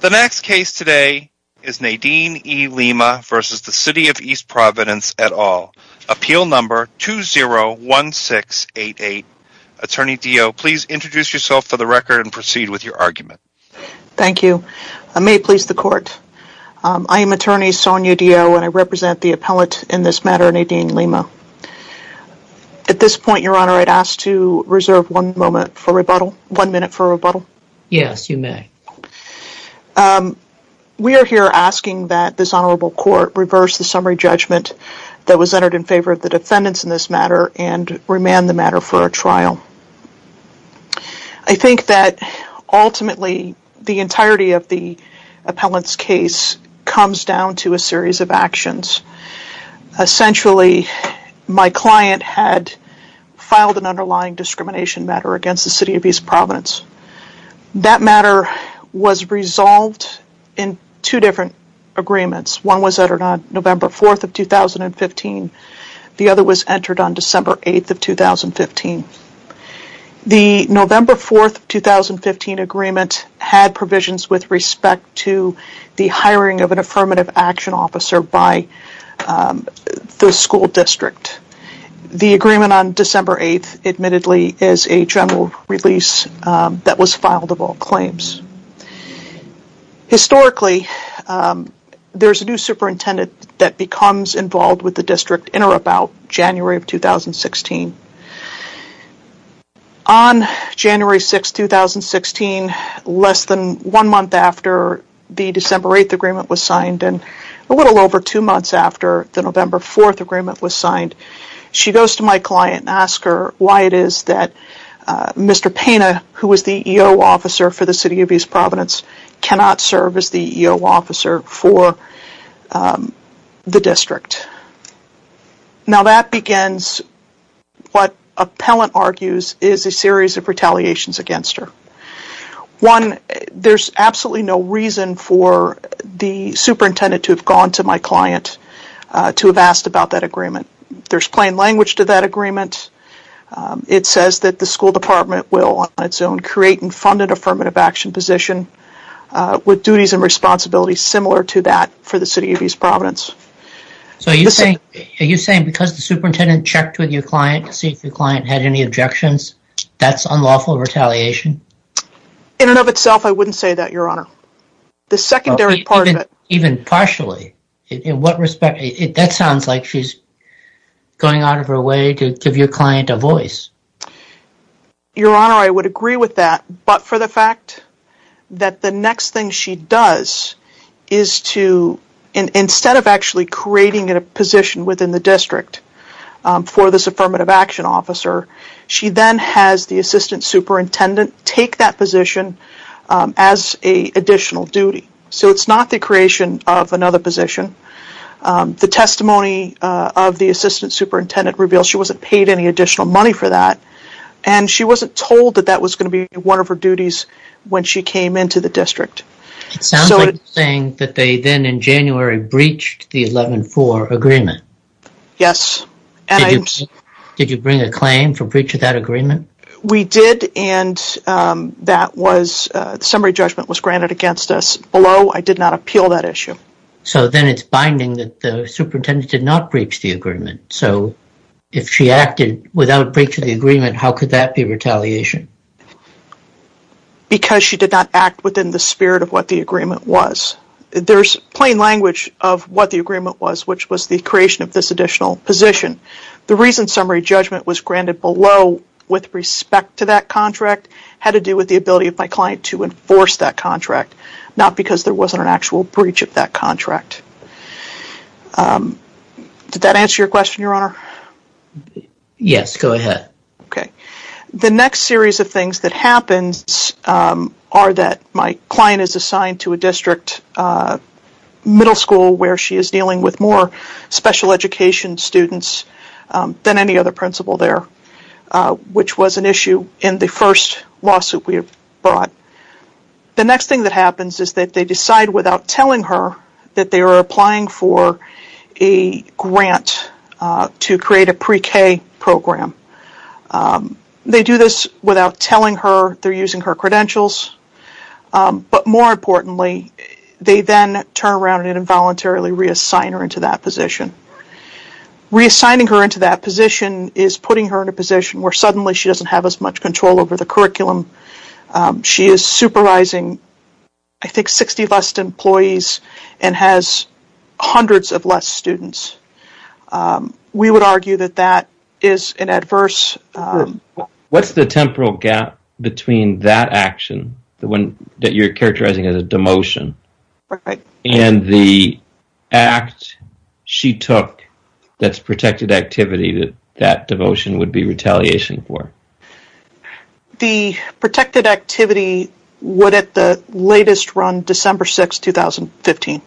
The next case today is Nadine E. Lima v. City of East Providence et al. Appeal No. 201688. Attorney Dio, please introduce yourself for the record and proceed with your argument. Thank you. May it please the court. I am Attorney Sonia Dio and I represent the appellate in this matter, Nadine Lima. At this point, Your Honor, I'd ask to reserve one moment for rebuttal. One minute for rebuttal. Yes. Yes, you may. We are here asking that this Honorable Court reverse the summary judgment that was entered in favor of the defendants in this matter and remand the matter for a trial. I think that ultimately the entirety of the appellant's case comes down to a series of actions. Essentially, my client had filed an underlying discrimination matter against the City of East Providence. That matter was resolved in two different agreements. One was entered on November 4th of 2015. The other was entered on December 8th of 2015. The November 4th of 2015 agreement had provisions with respect to the hiring of an Affirmative Action Officer by the school district. The agreement on December 8th, admittedly, is a general release that was filed of all claims. Historically, there's a new superintendent that becomes involved with the district in or about January of 2016. On January 6th, 2016, less than one month after the December 8th agreement was signed and a little over two months after the November 4th agreement was signed, she goes to my client and asks her why it is that Mr. Pena, who was the EO officer for the City of East Providence, cannot serve as the EO officer for the district. Now that begins what an appellant argues is a series of retaliations against her. One, there's absolutely no reason for the superintendent to have gone to my client to have asked about that agreement. There's plain language to that agreement. It says that the school department will, on its own, create and fund an Affirmative Action position with duties and responsibilities similar to that for the City of East Providence. So are you saying because the superintendent checked with your client to see if your client had any objections, that's unlawful retaliation? In and of itself, I wouldn't say that, Your Honor. The secondary part of it. Even partially? In what respect? That sounds like she's going out of her way to give your client a voice. Your Honor, I would agree with that. But for the fact that the next thing she does is to, instead of actually creating a position within the district for this Affirmative Action officer, she then has the assistant superintendent take that position as an additional duty. So it's not the creation of another position. The testimony of the assistant superintendent reveals she wasn't paid any additional money for that, and she wasn't told that that was going to be one of her duties when she came into the district. It sounds like you're saying that they then in January breached the 11-4 agreement. Yes. Did you bring a claim for breach of that agreement? We did, and that was, the summary judgment was granted against us. Below, I did not appeal that issue. So then it's binding that the superintendent did not breach the agreement. So if she acted without breach of the agreement, how could that be retaliation? Because she did not act within the spirit of what the agreement was. There's plain language of what the agreement was, which was the creation of this additional position. The reason summary judgment was granted below with respect to that contract had to do with the ability of my client to enforce that contract, not because there wasn't an actual breach of that contract. Did that answer your question, Your Honor? Yes, go ahead. Okay. The next series of things that happens are that my client is assigned to a district middle school where she is dealing with more special education students than any other principal there, which was an issue in the first lawsuit we brought. The next thing that happens is that they decide without telling her that they are applying for a grant to create a pre-K program. They do this without telling her, they're using her credentials, but more importantly they then turn around and involuntarily reassign her into that position. Reassigning her into that position is putting her in a position where suddenly she doesn't have as much control over the curriculum. She is supervising, I think, 60 less employees and has hundreds of less students. We would argue that that is an adverse... What's the temporal gap between that action that you're characterizing as a demotion and the act she took that's protected activity that that devotion would be retaliation for? The protected activity would at the latest run December 6, 2015.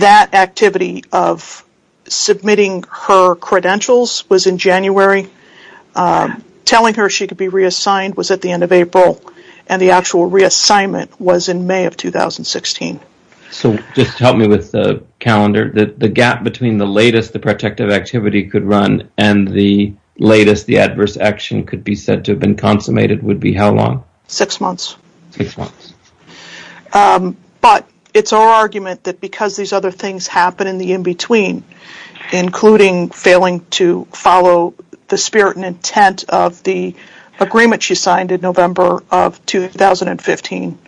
That activity of submitting her credentials was in January. Telling her she could be reassigned was at the end of April, and the actual reassignment was in May of 2016. So just to help me with the calendar, the gap between the latest the protective activity could run and the latest the adverse action could be said to have been consummated would be how long? Six months. Six months. But it's our argument that because these other things happen in the in-between, including failing to follow the spirit and intent of the agreement she signed in November of 2015,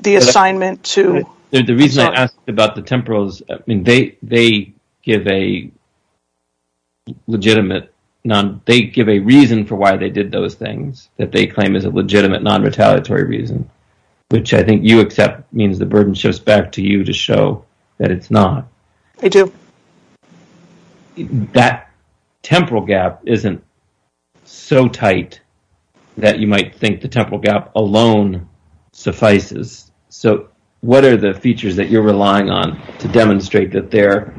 the assignment to... They give a legitimate... They give a reason for why they did those things that they claim is a legitimate non-retaliatory reason, which I think you accept means the burden shifts back to you to show that it's not. I do. That temporal gap isn't so tight that you might think the temporal gap alone suffices. So what are the features that you're relying on to demonstrate that their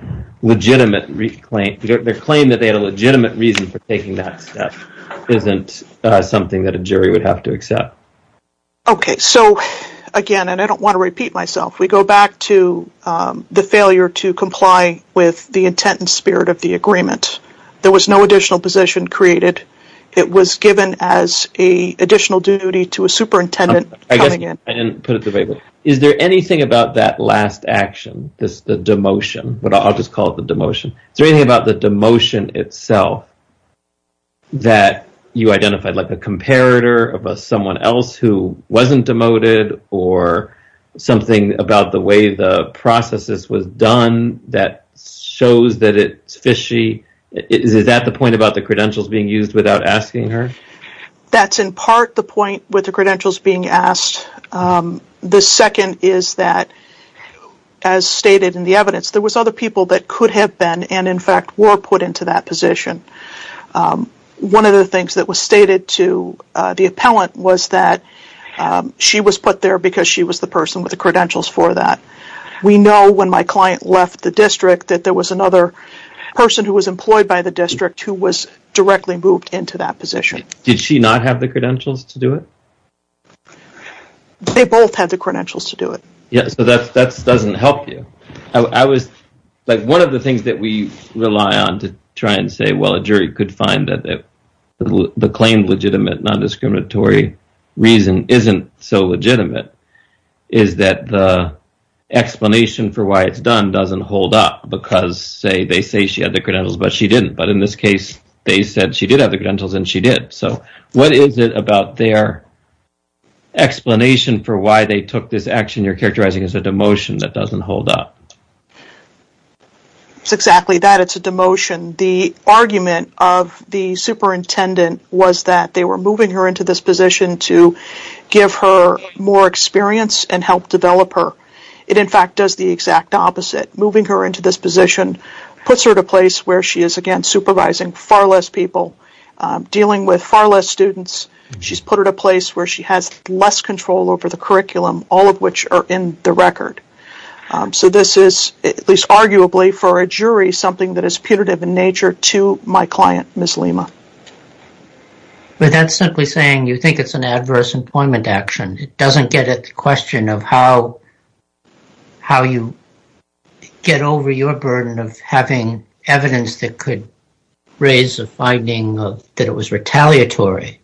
claim that they had a legitimate reason for taking that step isn't something that a jury would have to accept? Okay, so again, and I don't want to repeat myself, we go back to the failure to comply with the intent and spirit of the agreement. There was no additional position created. It was given as an additional duty to a superintendent coming in. Is there anything about that last action, the demotion, but I'll just call it the demotion. Is there anything about the demotion itself that you identified, like a comparator of someone else who wasn't demoted or something about the way the process was done that shows that it's fishy? Is that the point about the credentials being used without asking her? That's in part the point with the credentials being asked. The second is that, as stated in the evidence, there was other people that could have been and in fact were put into that position. One of the things that was stated to the appellant was that she was put there because she was the person with the credentials for that. We know when my client left the district that there was another person who was employed by the district who was directly moved into that position. Did she not have the credentials to do it? They both had the credentials to do it. Yeah, so that doesn't help you. One of the things that we rely on to try and say, well, a jury could find that the claimed legitimate non-discriminatory reason isn't so legitimate is that the explanation for why they took this action you're characterizing as a demotion that doesn't hold up. It's exactly that, it's a demotion. The argument of the superintendent was that they were moving her into this position to give her more experience and help develop her. It in fact does the exact opposite. Moving her into this position puts her in a place where she is, again, supervising far less people, dealing with far less students. She's put her in a place where she has less control over the curriculum, all of which are in the record. So this is, at least arguably for a jury, something that is punitive in nature to my client, Ms. Lima. But that's simply saying you think it's an adverse employment action. It doesn't get at the question of how you get over your burden of having evidence that could raise a finding that it was retaliatory.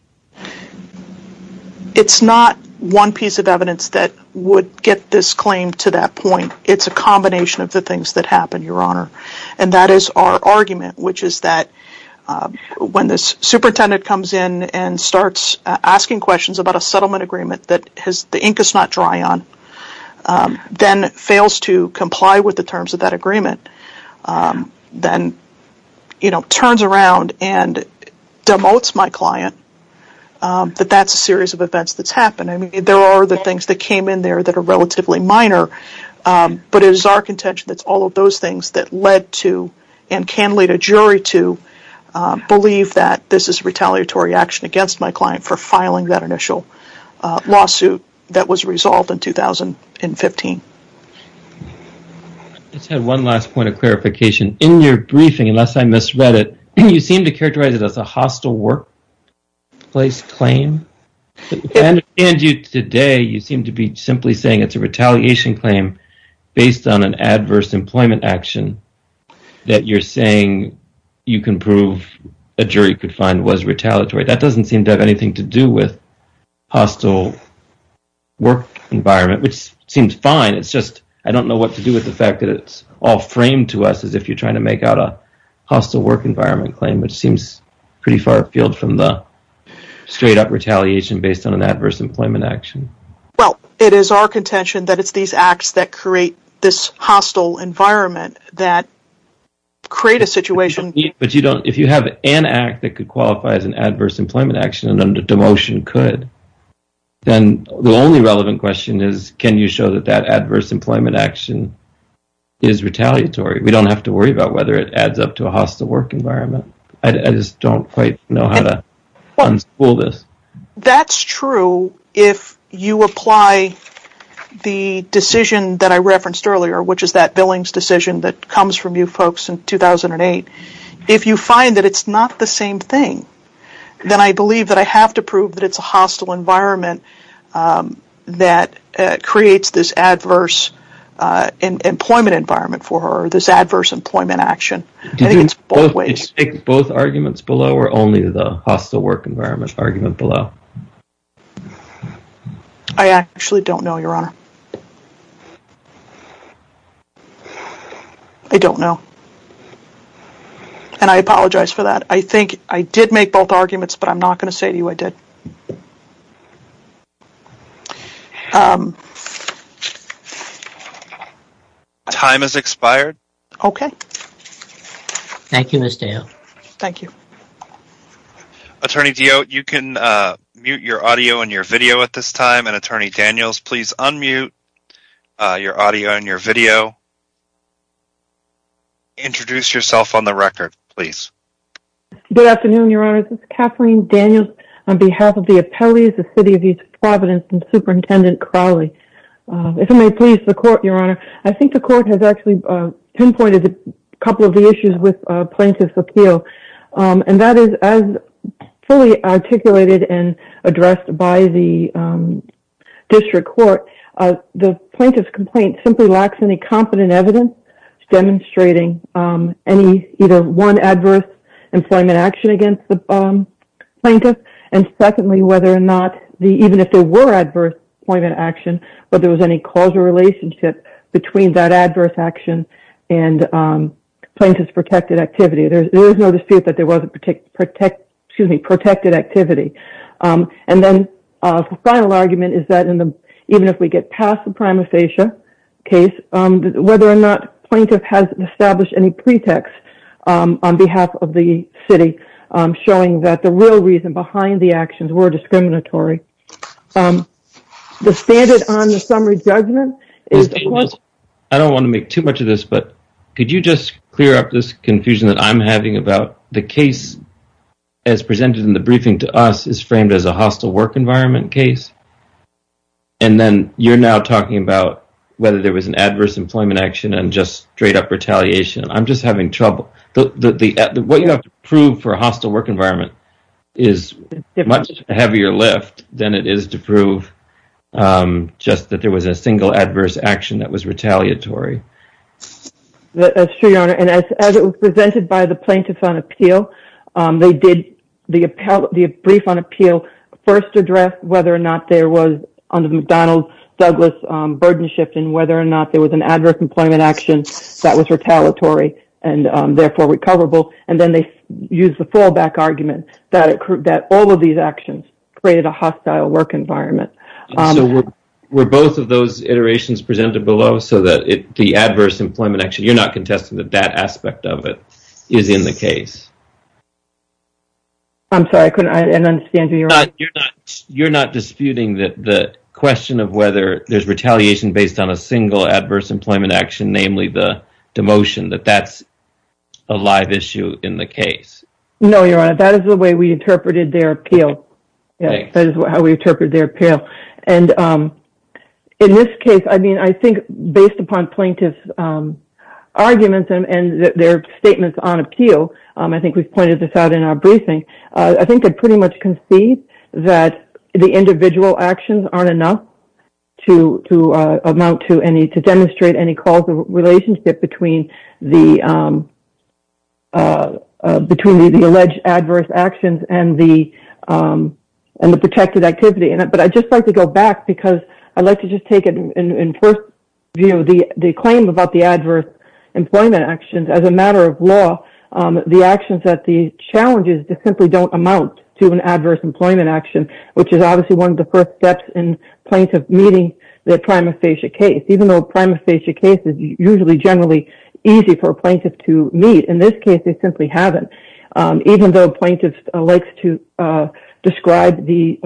It's not one piece of evidence that would get this claim to that point. It's a combination of the things that happened, Your Honor. And that is our argument, which is that when the superintendent comes in and starts asking questions about a settlement agreement that the ink does not dry on, then fails to comply with the terms of that agreement, then turns around and demotes my client, that that's a series of events that's happened. There are other things that came in there that are relatively minor, but it is our contention that it's all of those things that led to, and can lead a jury to, believe that this is retaliatory action against my client for filing that initial lawsuit that was resolved in 2015. I just had one last point of clarification. In your briefing, unless I misread it, you seem to characterize it as a hostile workplace claim. If I understand you today, you seem to be simply saying it's a retaliation claim based on an adverse employment action that you're saying you can prove a jury could find was retaliatory. That doesn't seem to have anything to do with hostile work environment, which seems fine. It's just I don't know what to do with the fact that it's all framed to us as if you're trying to make out a hostile work environment claim, which seems pretty far afield from the straight up retaliation based on an adverse employment action. Well, it is our contention that it's these acts that create this hostile environment that create a situation. If you have an act that could qualify as an adverse employment action and a demotion could, then the only relevant question is, can you show that that adverse employment action is retaliatory? We don't have to worry about whether it adds up to a hostile work environment. I just don't quite know how to unspool this. That's true if you apply the decision that I referenced earlier, which is that Billings decision that comes from you folks in 2008. If you find that it's not the same thing, then I believe that I have to prove that it's a hostile environment that creates this adverse employment environment for this adverse employment action. Did you make both arguments below or only the hostile work environment argument below? I actually don't know, your honor. I don't know. And I apologize for that. I think I did make both arguments, but I'm not going to say to you I did. Time has expired. Okay. Thank you, Ms. Dale. Thank you. Attorney Deyotte, you can mute your audio and your video at this time, and Attorney Daniels, please unmute your audio and your video. Introduce yourself on the record, please. Good afternoon, your honor. This is Kathleen Daniels on behalf of the appellees, the City of East Providence, and Superintendent Crowley. If I may please the court, your honor. I think the court has actually pinpointed a couple of the issues with plaintiff's appeal, and that is as fully articulated and addressed by the district court, the plaintiff's complaint simply lacks any competent evidence demonstrating any, either one, adverse employment action against the plaintiff, and secondly, whether or not, even if there were adverse employment action, whether there was any causal relationship between that adverse action and plaintiff's protected activity. There is no dispute that there was a protected activity, and then the final argument is that in the, even if we get past the prima facie case, whether or not plaintiff has established any pretext on behalf of the city showing that the real reason behind the actions were discriminatory. The standard on the summary judgment is... I don't want to make too much of this, but could you just clear up this confusion that I'm having about the case as presented in the briefing to us is framed as a hostile work environment case, and then you're now talking about whether there was an adverse employment action and just straight up retaliation. I'm just having trouble. What you have to prove for a hostile work environment is a much heavier lift than it is to prove just that there was a single adverse action that was retaliatory. That's true, Your Honor, and as it was presented by the plaintiffs on appeal, they did the brief on appeal first address whether or not there was, under the McDonald-Douglas burden shift, and whether or not there was an adverse employment action that was retaliatory, and therefore, recoverable, and then they used the fallback argument that all of these actions created a hostile work environment. Were both of those iterations presented below so that the adverse employment action, you're not contesting that that aspect of it is in the case? I'm sorry, I couldn't understand you, Your Honor. You're not disputing the question of whether there's retaliation based on a single adverse employment action, namely the demotion, that that's a live issue in the case? No, Your Honor, that is the way we interpreted their appeal. That is how we interpreted their appeal. And in this case, I mean, I think based upon plaintiff's arguments and their statements on appeal, I think we've pointed this out in our briefing, I think they pretty much concede that the individual actions aren't enough to amount to any, to demonstrate any causal relationship between the alleged adverse actions and the protected activity. But I'd just like to go back, because I'd like to just take it in first view, the claim about the adverse employment actions as a matter of law, the actions that the challenges to simply don't amount to an adverse employment action, which is obviously one of the first steps in plaintiff meeting the prima facie case. Even though a prima facie case is usually generally easy for a plaintiff to meet, in this case they simply haven't. Even though plaintiff likes to describe the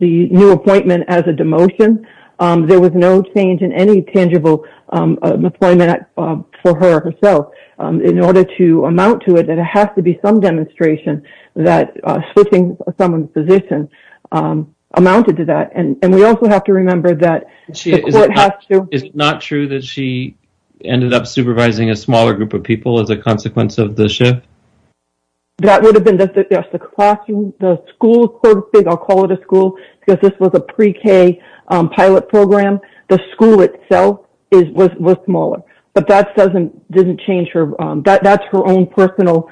new appointment as a demotion, there was no change in any tangible employment for her or herself. In order to amount to it, there has to be some demonstration that switching someone's position amounted to that. And we also have to remember that the court has to... Is it not true that she ended up supervising a smaller group of people as a consequence of the shift? That would have been, yes, the classroom, the school, I'll call it a school, because this was a pre-K pilot program. The school itself was smaller. But that doesn't change her... That's her own personal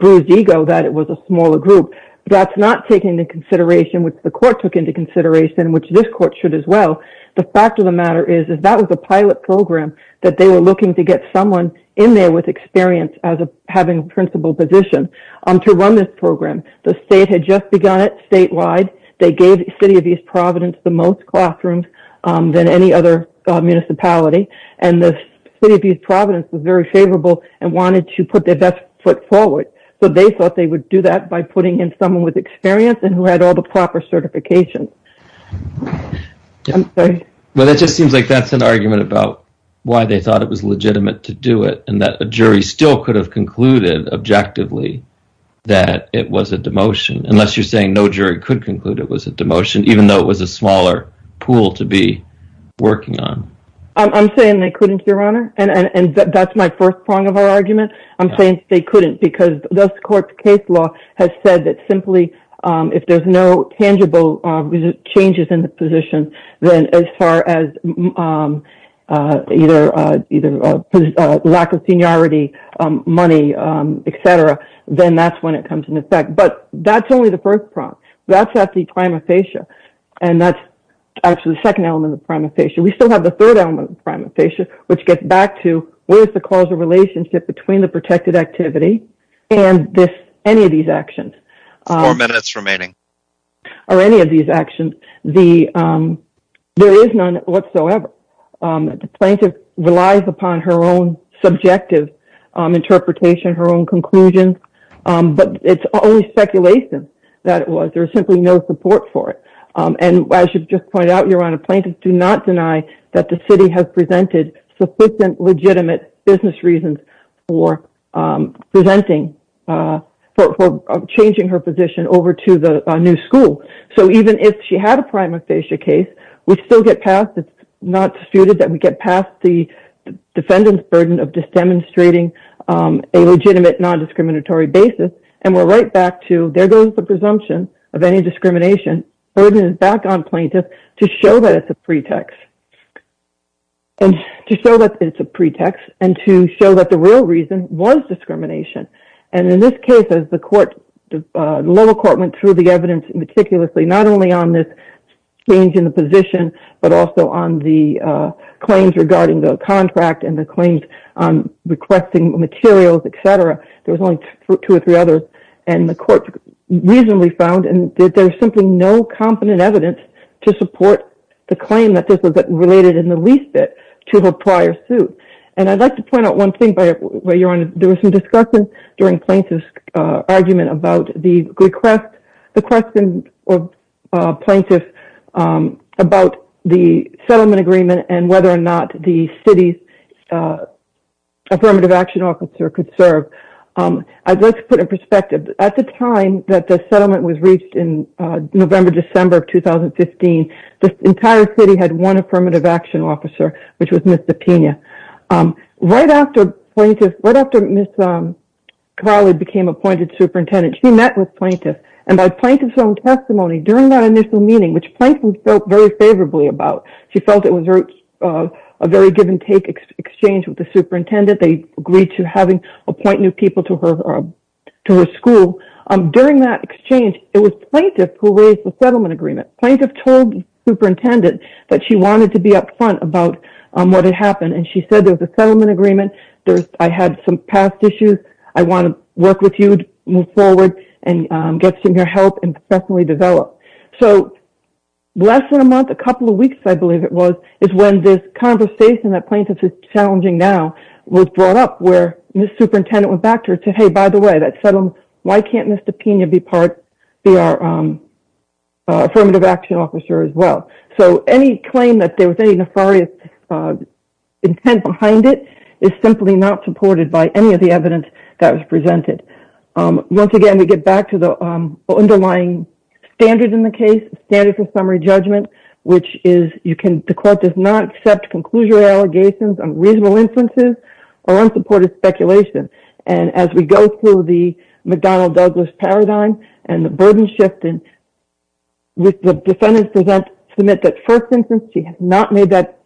bruised ego that it was a smaller group. That's not taken into consideration, which the court took into consideration, which this court should as well. The fact of the matter is, is that was a pilot program that they were looking to get someone in there with experience as having a principal position to run this program. The state had just begun it statewide. They gave the city of East Providence the most classrooms than any other municipality. And the city of East Providence was very favorable and wanted to put their best foot forward. So they thought they would do that by putting in someone with experience and who had all the proper certifications. I'm sorry. Well, that just seems like that's an argument about why they thought it was legitimate to do it and that a jury still could have concluded objectively that it was a demotion, unless you're saying no jury could conclude it was a demotion, even though it was a smaller pool to be working on. I'm saying they couldn't, Your Honor. And that's my first prong of our argument. I'm saying they couldn't because the court's case law has said that simply if there's no tangible changes in the position, then as far as either lack of seniority, money, etc., then that's when it comes into effect. But that's only the first prong. That's at the prima facie. And that's actually the second element of the prima facie. We still have the third element of the prima facie, which gets back to, what is the causal relationship between the protected activity and any of these actions? Four minutes remaining. Or any of these actions. There is none whatsoever. The plaintiff relies upon her own subjective interpretation, her own conclusions, but it's only speculation that it was. There's simply no support for it. And as you just pointed out, Your Honor, plaintiffs do not deny that the city has presented sufficient legitimate business reasons for presenting, for changing her position over to the new school. So even if she had a prima facie case, we still get past, it's not disputed that we get past the defendant's burden of just demonstrating a legitimate non-discriminatory basis. And we're right back to, there goes the presumption of any discrimination. The burden is back on plaintiffs to show that it's a pretext. And to show that it's a pretext, and to show that the real reason was discrimination. And in this case, as the court, the lower court went through the evidence meticulously, not only on this change in the position, but also on the claims regarding the contract and the claims on requesting materials, et cetera, there was only two or three others. And the court reasonably found that there was simply no competent evidence to support the claim that this was related in the least bit to her prior suit. And I'd like to point out one thing, Your Honor, there was some discussion during plaintiff's argument about the request, the question of plaintiffs about the settlement agreement and whether or not the city's affirmative action officer could serve. I'd like to put in perspective, at the time that the settlement was reached in November, December of 2015, the entire city had one affirmative action officer, which was Ms. Zepina. Right after plaintiff, right after Ms. Carly became appointed superintendent, she met with plaintiffs. And by plaintiff's own testimony during that initial meeting, which plaintiffs felt very favorably about, she felt it was a very give and take exchange with the superintendent. They agreed to appoint new people to her school. During that exchange, it was plaintiff who raised the settlement agreement. Plaintiff told superintendent that she wanted to be upfront about what had happened. And she said, there was a settlement agreement. I had some past issues. I want to work with you to move forward and get some help and professionally develop. So less than a month, a couple of weeks, I believe it was, is when this conversation that plaintiffs are challenging now was brought up, where Ms. Superintendent went back to her and said, hey, by the way, that settlement, why can't Ms. Zepina be part, be our affirmative action officer as well? So any claim that there was any nefarious intent behind it is simply not supported by any of the evidence that was presented. Once again, we get back to the underlying standard in the case, standard for summary judgment, which is you can, the court does not accept conclusionary allegations on reasonable instances or unsupported speculation. And as we go through the McDonnell-Douglas paradigm and the burden shifting, with the defendants present, submit that first instance, she has not made that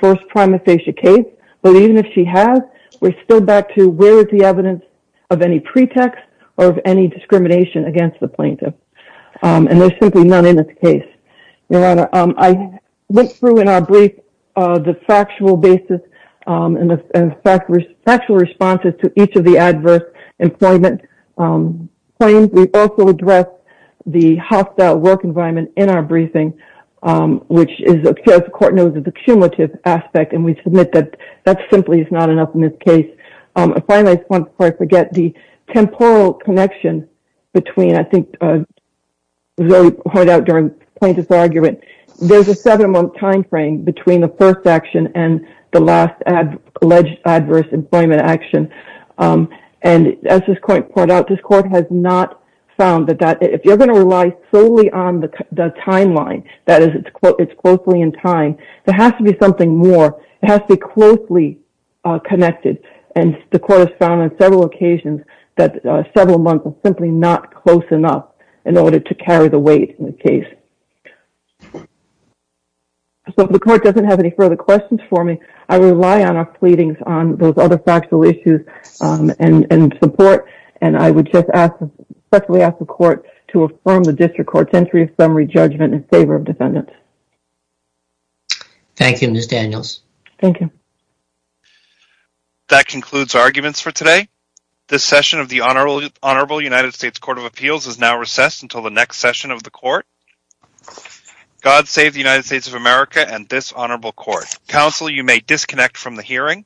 first prima facie case. But even if she has, we're still back to where is the evidence of any pretext or of any discrimination against the plaintiff. And there's simply none in this case. I went through in our brief the factual basis and the factual responses to each of the adverse employment claims. We also address the hostile work environment in our briefing, which is, as the court knows, is a cumulative aspect. And we submit that that simply is not enough in this case. And finally, before I forget, the temporal connection between, I think Zoe pointed out during plaintiff's argument, there's a seven-month time frame between the first action and the last alleged adverse employment action. And as this court pointed out, this court has not found that if you're going to rely solely on the timeline, that is, it's closely in time, there has to be something more. It has to be closely connected. And the court has found on several occasions that several months is simply not close enough in order to carry the weight in the case. So if the court doesn't have any further questions for me, I rely on our pleadings on those other factual issues and support. And I would just ask, especially ask the court to affirm the district court's entry of summary judgment in favor of defendants. Thank you, Ms. Daniels. Thank you. That concludes arguments for today. This session of the Honorable United States Court of Appeals is now recessed until the next session of the court. God save the United States of America and this honorable court. Counsel, you may disconnect from the hearing.